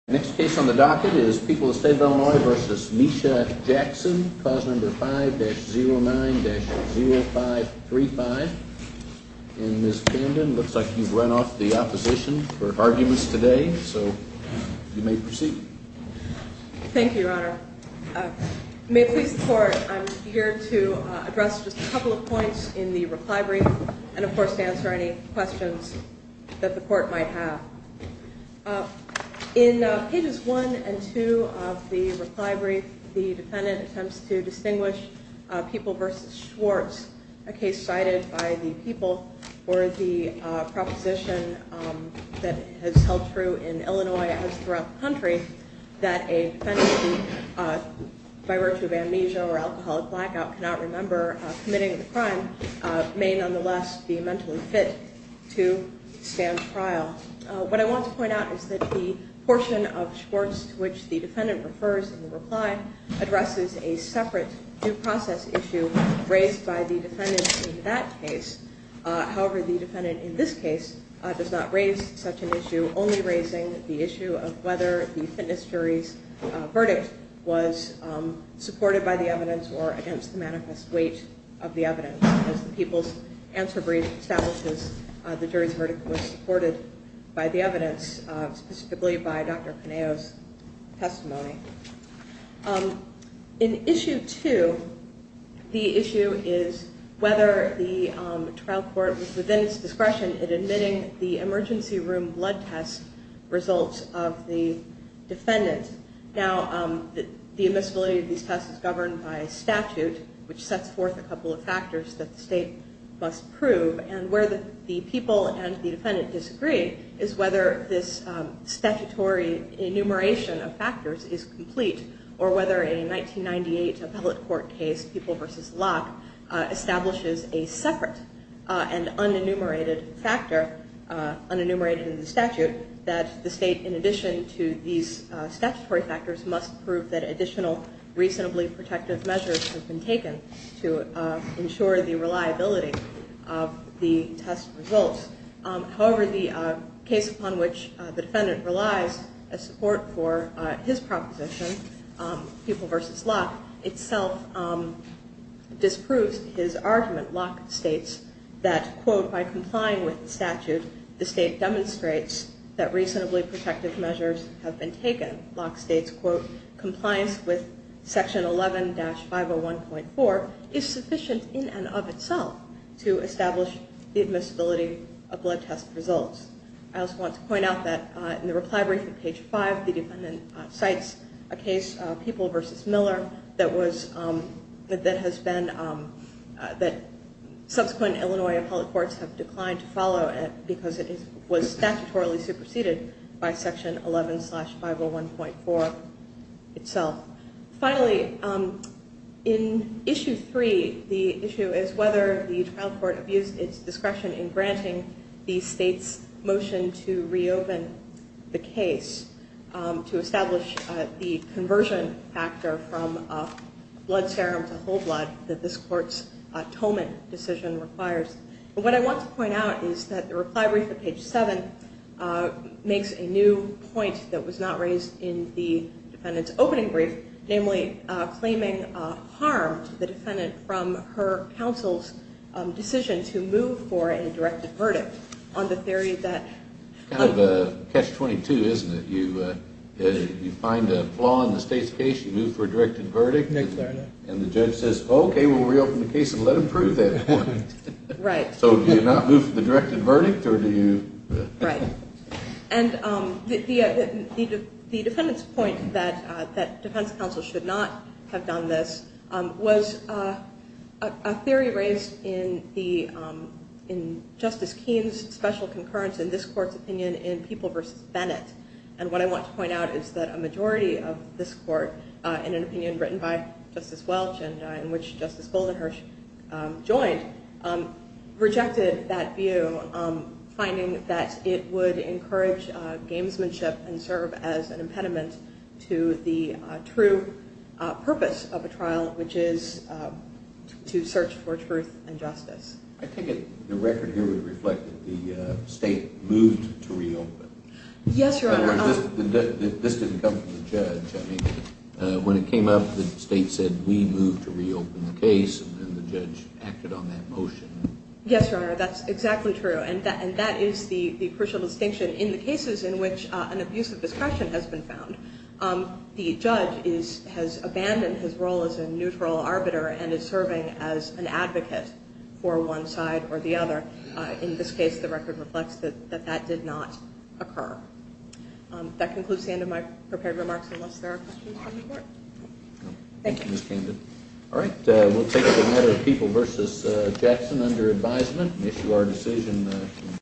5-09-0535. And, Ms. Camden, it looks like you've run off the opposition for arguments today, so you may proceed. Thank you, Your Honor. May it please the Court, I'm here to address just a couple of points in the reply brief and, of course, to answer any questions that the Court might have. In pages 1 and 2 of the reply brief, the defendant attempts to distinguish People v. Schwartz, a case cited by the People for the proposition that has held true in Illinois as throughout the country that a defendant, by virtue of amnesia or alcoholic blackout, cannot remember committing the crime, may nonetheless be mentally fit to stand trial. What I want to point out is that the portion of Schwartz to which the defendant refers in the reply addresses a separate due process issue raised by the defendant in that case. However, the defendant in this case does not raise such an issue, only raising the issue of whether the fitness jury's verdict was supported by the evidence or against the manifest weight of the evidence. As the People's Answer Brief establishes, the jury's verdict was supported by the evidence, specifically by Dr. Paneo's testimony. In issue 2, the issue is whether the trial court was within its discretion in admitting the emergency room blood test results of the defendant. Now, the admissibility of these tests is governed by statute, which sets forth a couple of factors that the state must prove. And where the people and the defendant disagree is whether this statutory enumeration of factors is complete or whether a 1998 appellate court case, People v. Locke, establishes a separate and unenumerated factor, unenumerated in the statute, that the state, in addition to these statutory factors, must prove that additional reasonably protective measures have been taken to ensure the reliability of the test results. However, the case upon which the defendant relies as support for his proposition, People v. Locke, itself disproves his argument. Locke states that, quote, by complying with the statute, the state demonstrates that reasonably protective measures have been taken. Locke states, quote, compliance with section 11-501.4 is sufficient in and of itself to establish the admissibility of blood test results. I also want to point out that in the reply briefing, page 5, the defendant cites a case, People v. Miller, that has been, that subsequent Illinois appellate courts have declined to follow because it was statutorily superseded by section 11-501.4 itself. Finally, in issue 3, the issue is whether the trial court abused its discretion in granting the state's motion to reopen the case to establish the And what I want to point out is that the reply brief at page 7 makes a new point that was not raised in the defendant's opening brief, namely claiming harm to the defendant from her counsel's decision to move for a directed verdict on the theory that Kind of a catch-22, isn't it? You find a flaw in the state's case, you move for a directed verdict, and the judge says, okay, we'll reopen the case and let them prove that point. So do you not move for the directed verdict, or do you? Right. And the defendant's point that defense counsel should not have done this was a theory raised in Justice Keene's special concurrence in this court's opinion in People v. Bennett. And what I want to point out is that a majority of this court, in an opinion written by Justice Welch, in which Justice Goldenherz joined, rejected that view, finding that it would encourage gamesmanship and serve as an impediment to the true purpose of a trial, which is to search for truth and justice. I take it the record here would reflect that the state moved to reopen. Yes, Your Honor. This didn't come from the judge. I mean, when it came up, the state said, we move to reopen the case, and then the judge acted on that motion. Yes, Your Honor, that's exactly true. And that is the crucial distinction in the cases in which an abuse of discretion has been found. The judge has abandoned his role as a neutral arbiter and is serving as an advocate for one side or the other. In this case, the record reflects that that did not occur. That concludes the end of my prepared remarks, unless there are questions from the court. Thank you, Ms. Candid. All right, we'll take another People v. Jackson under advisement and issue our decision.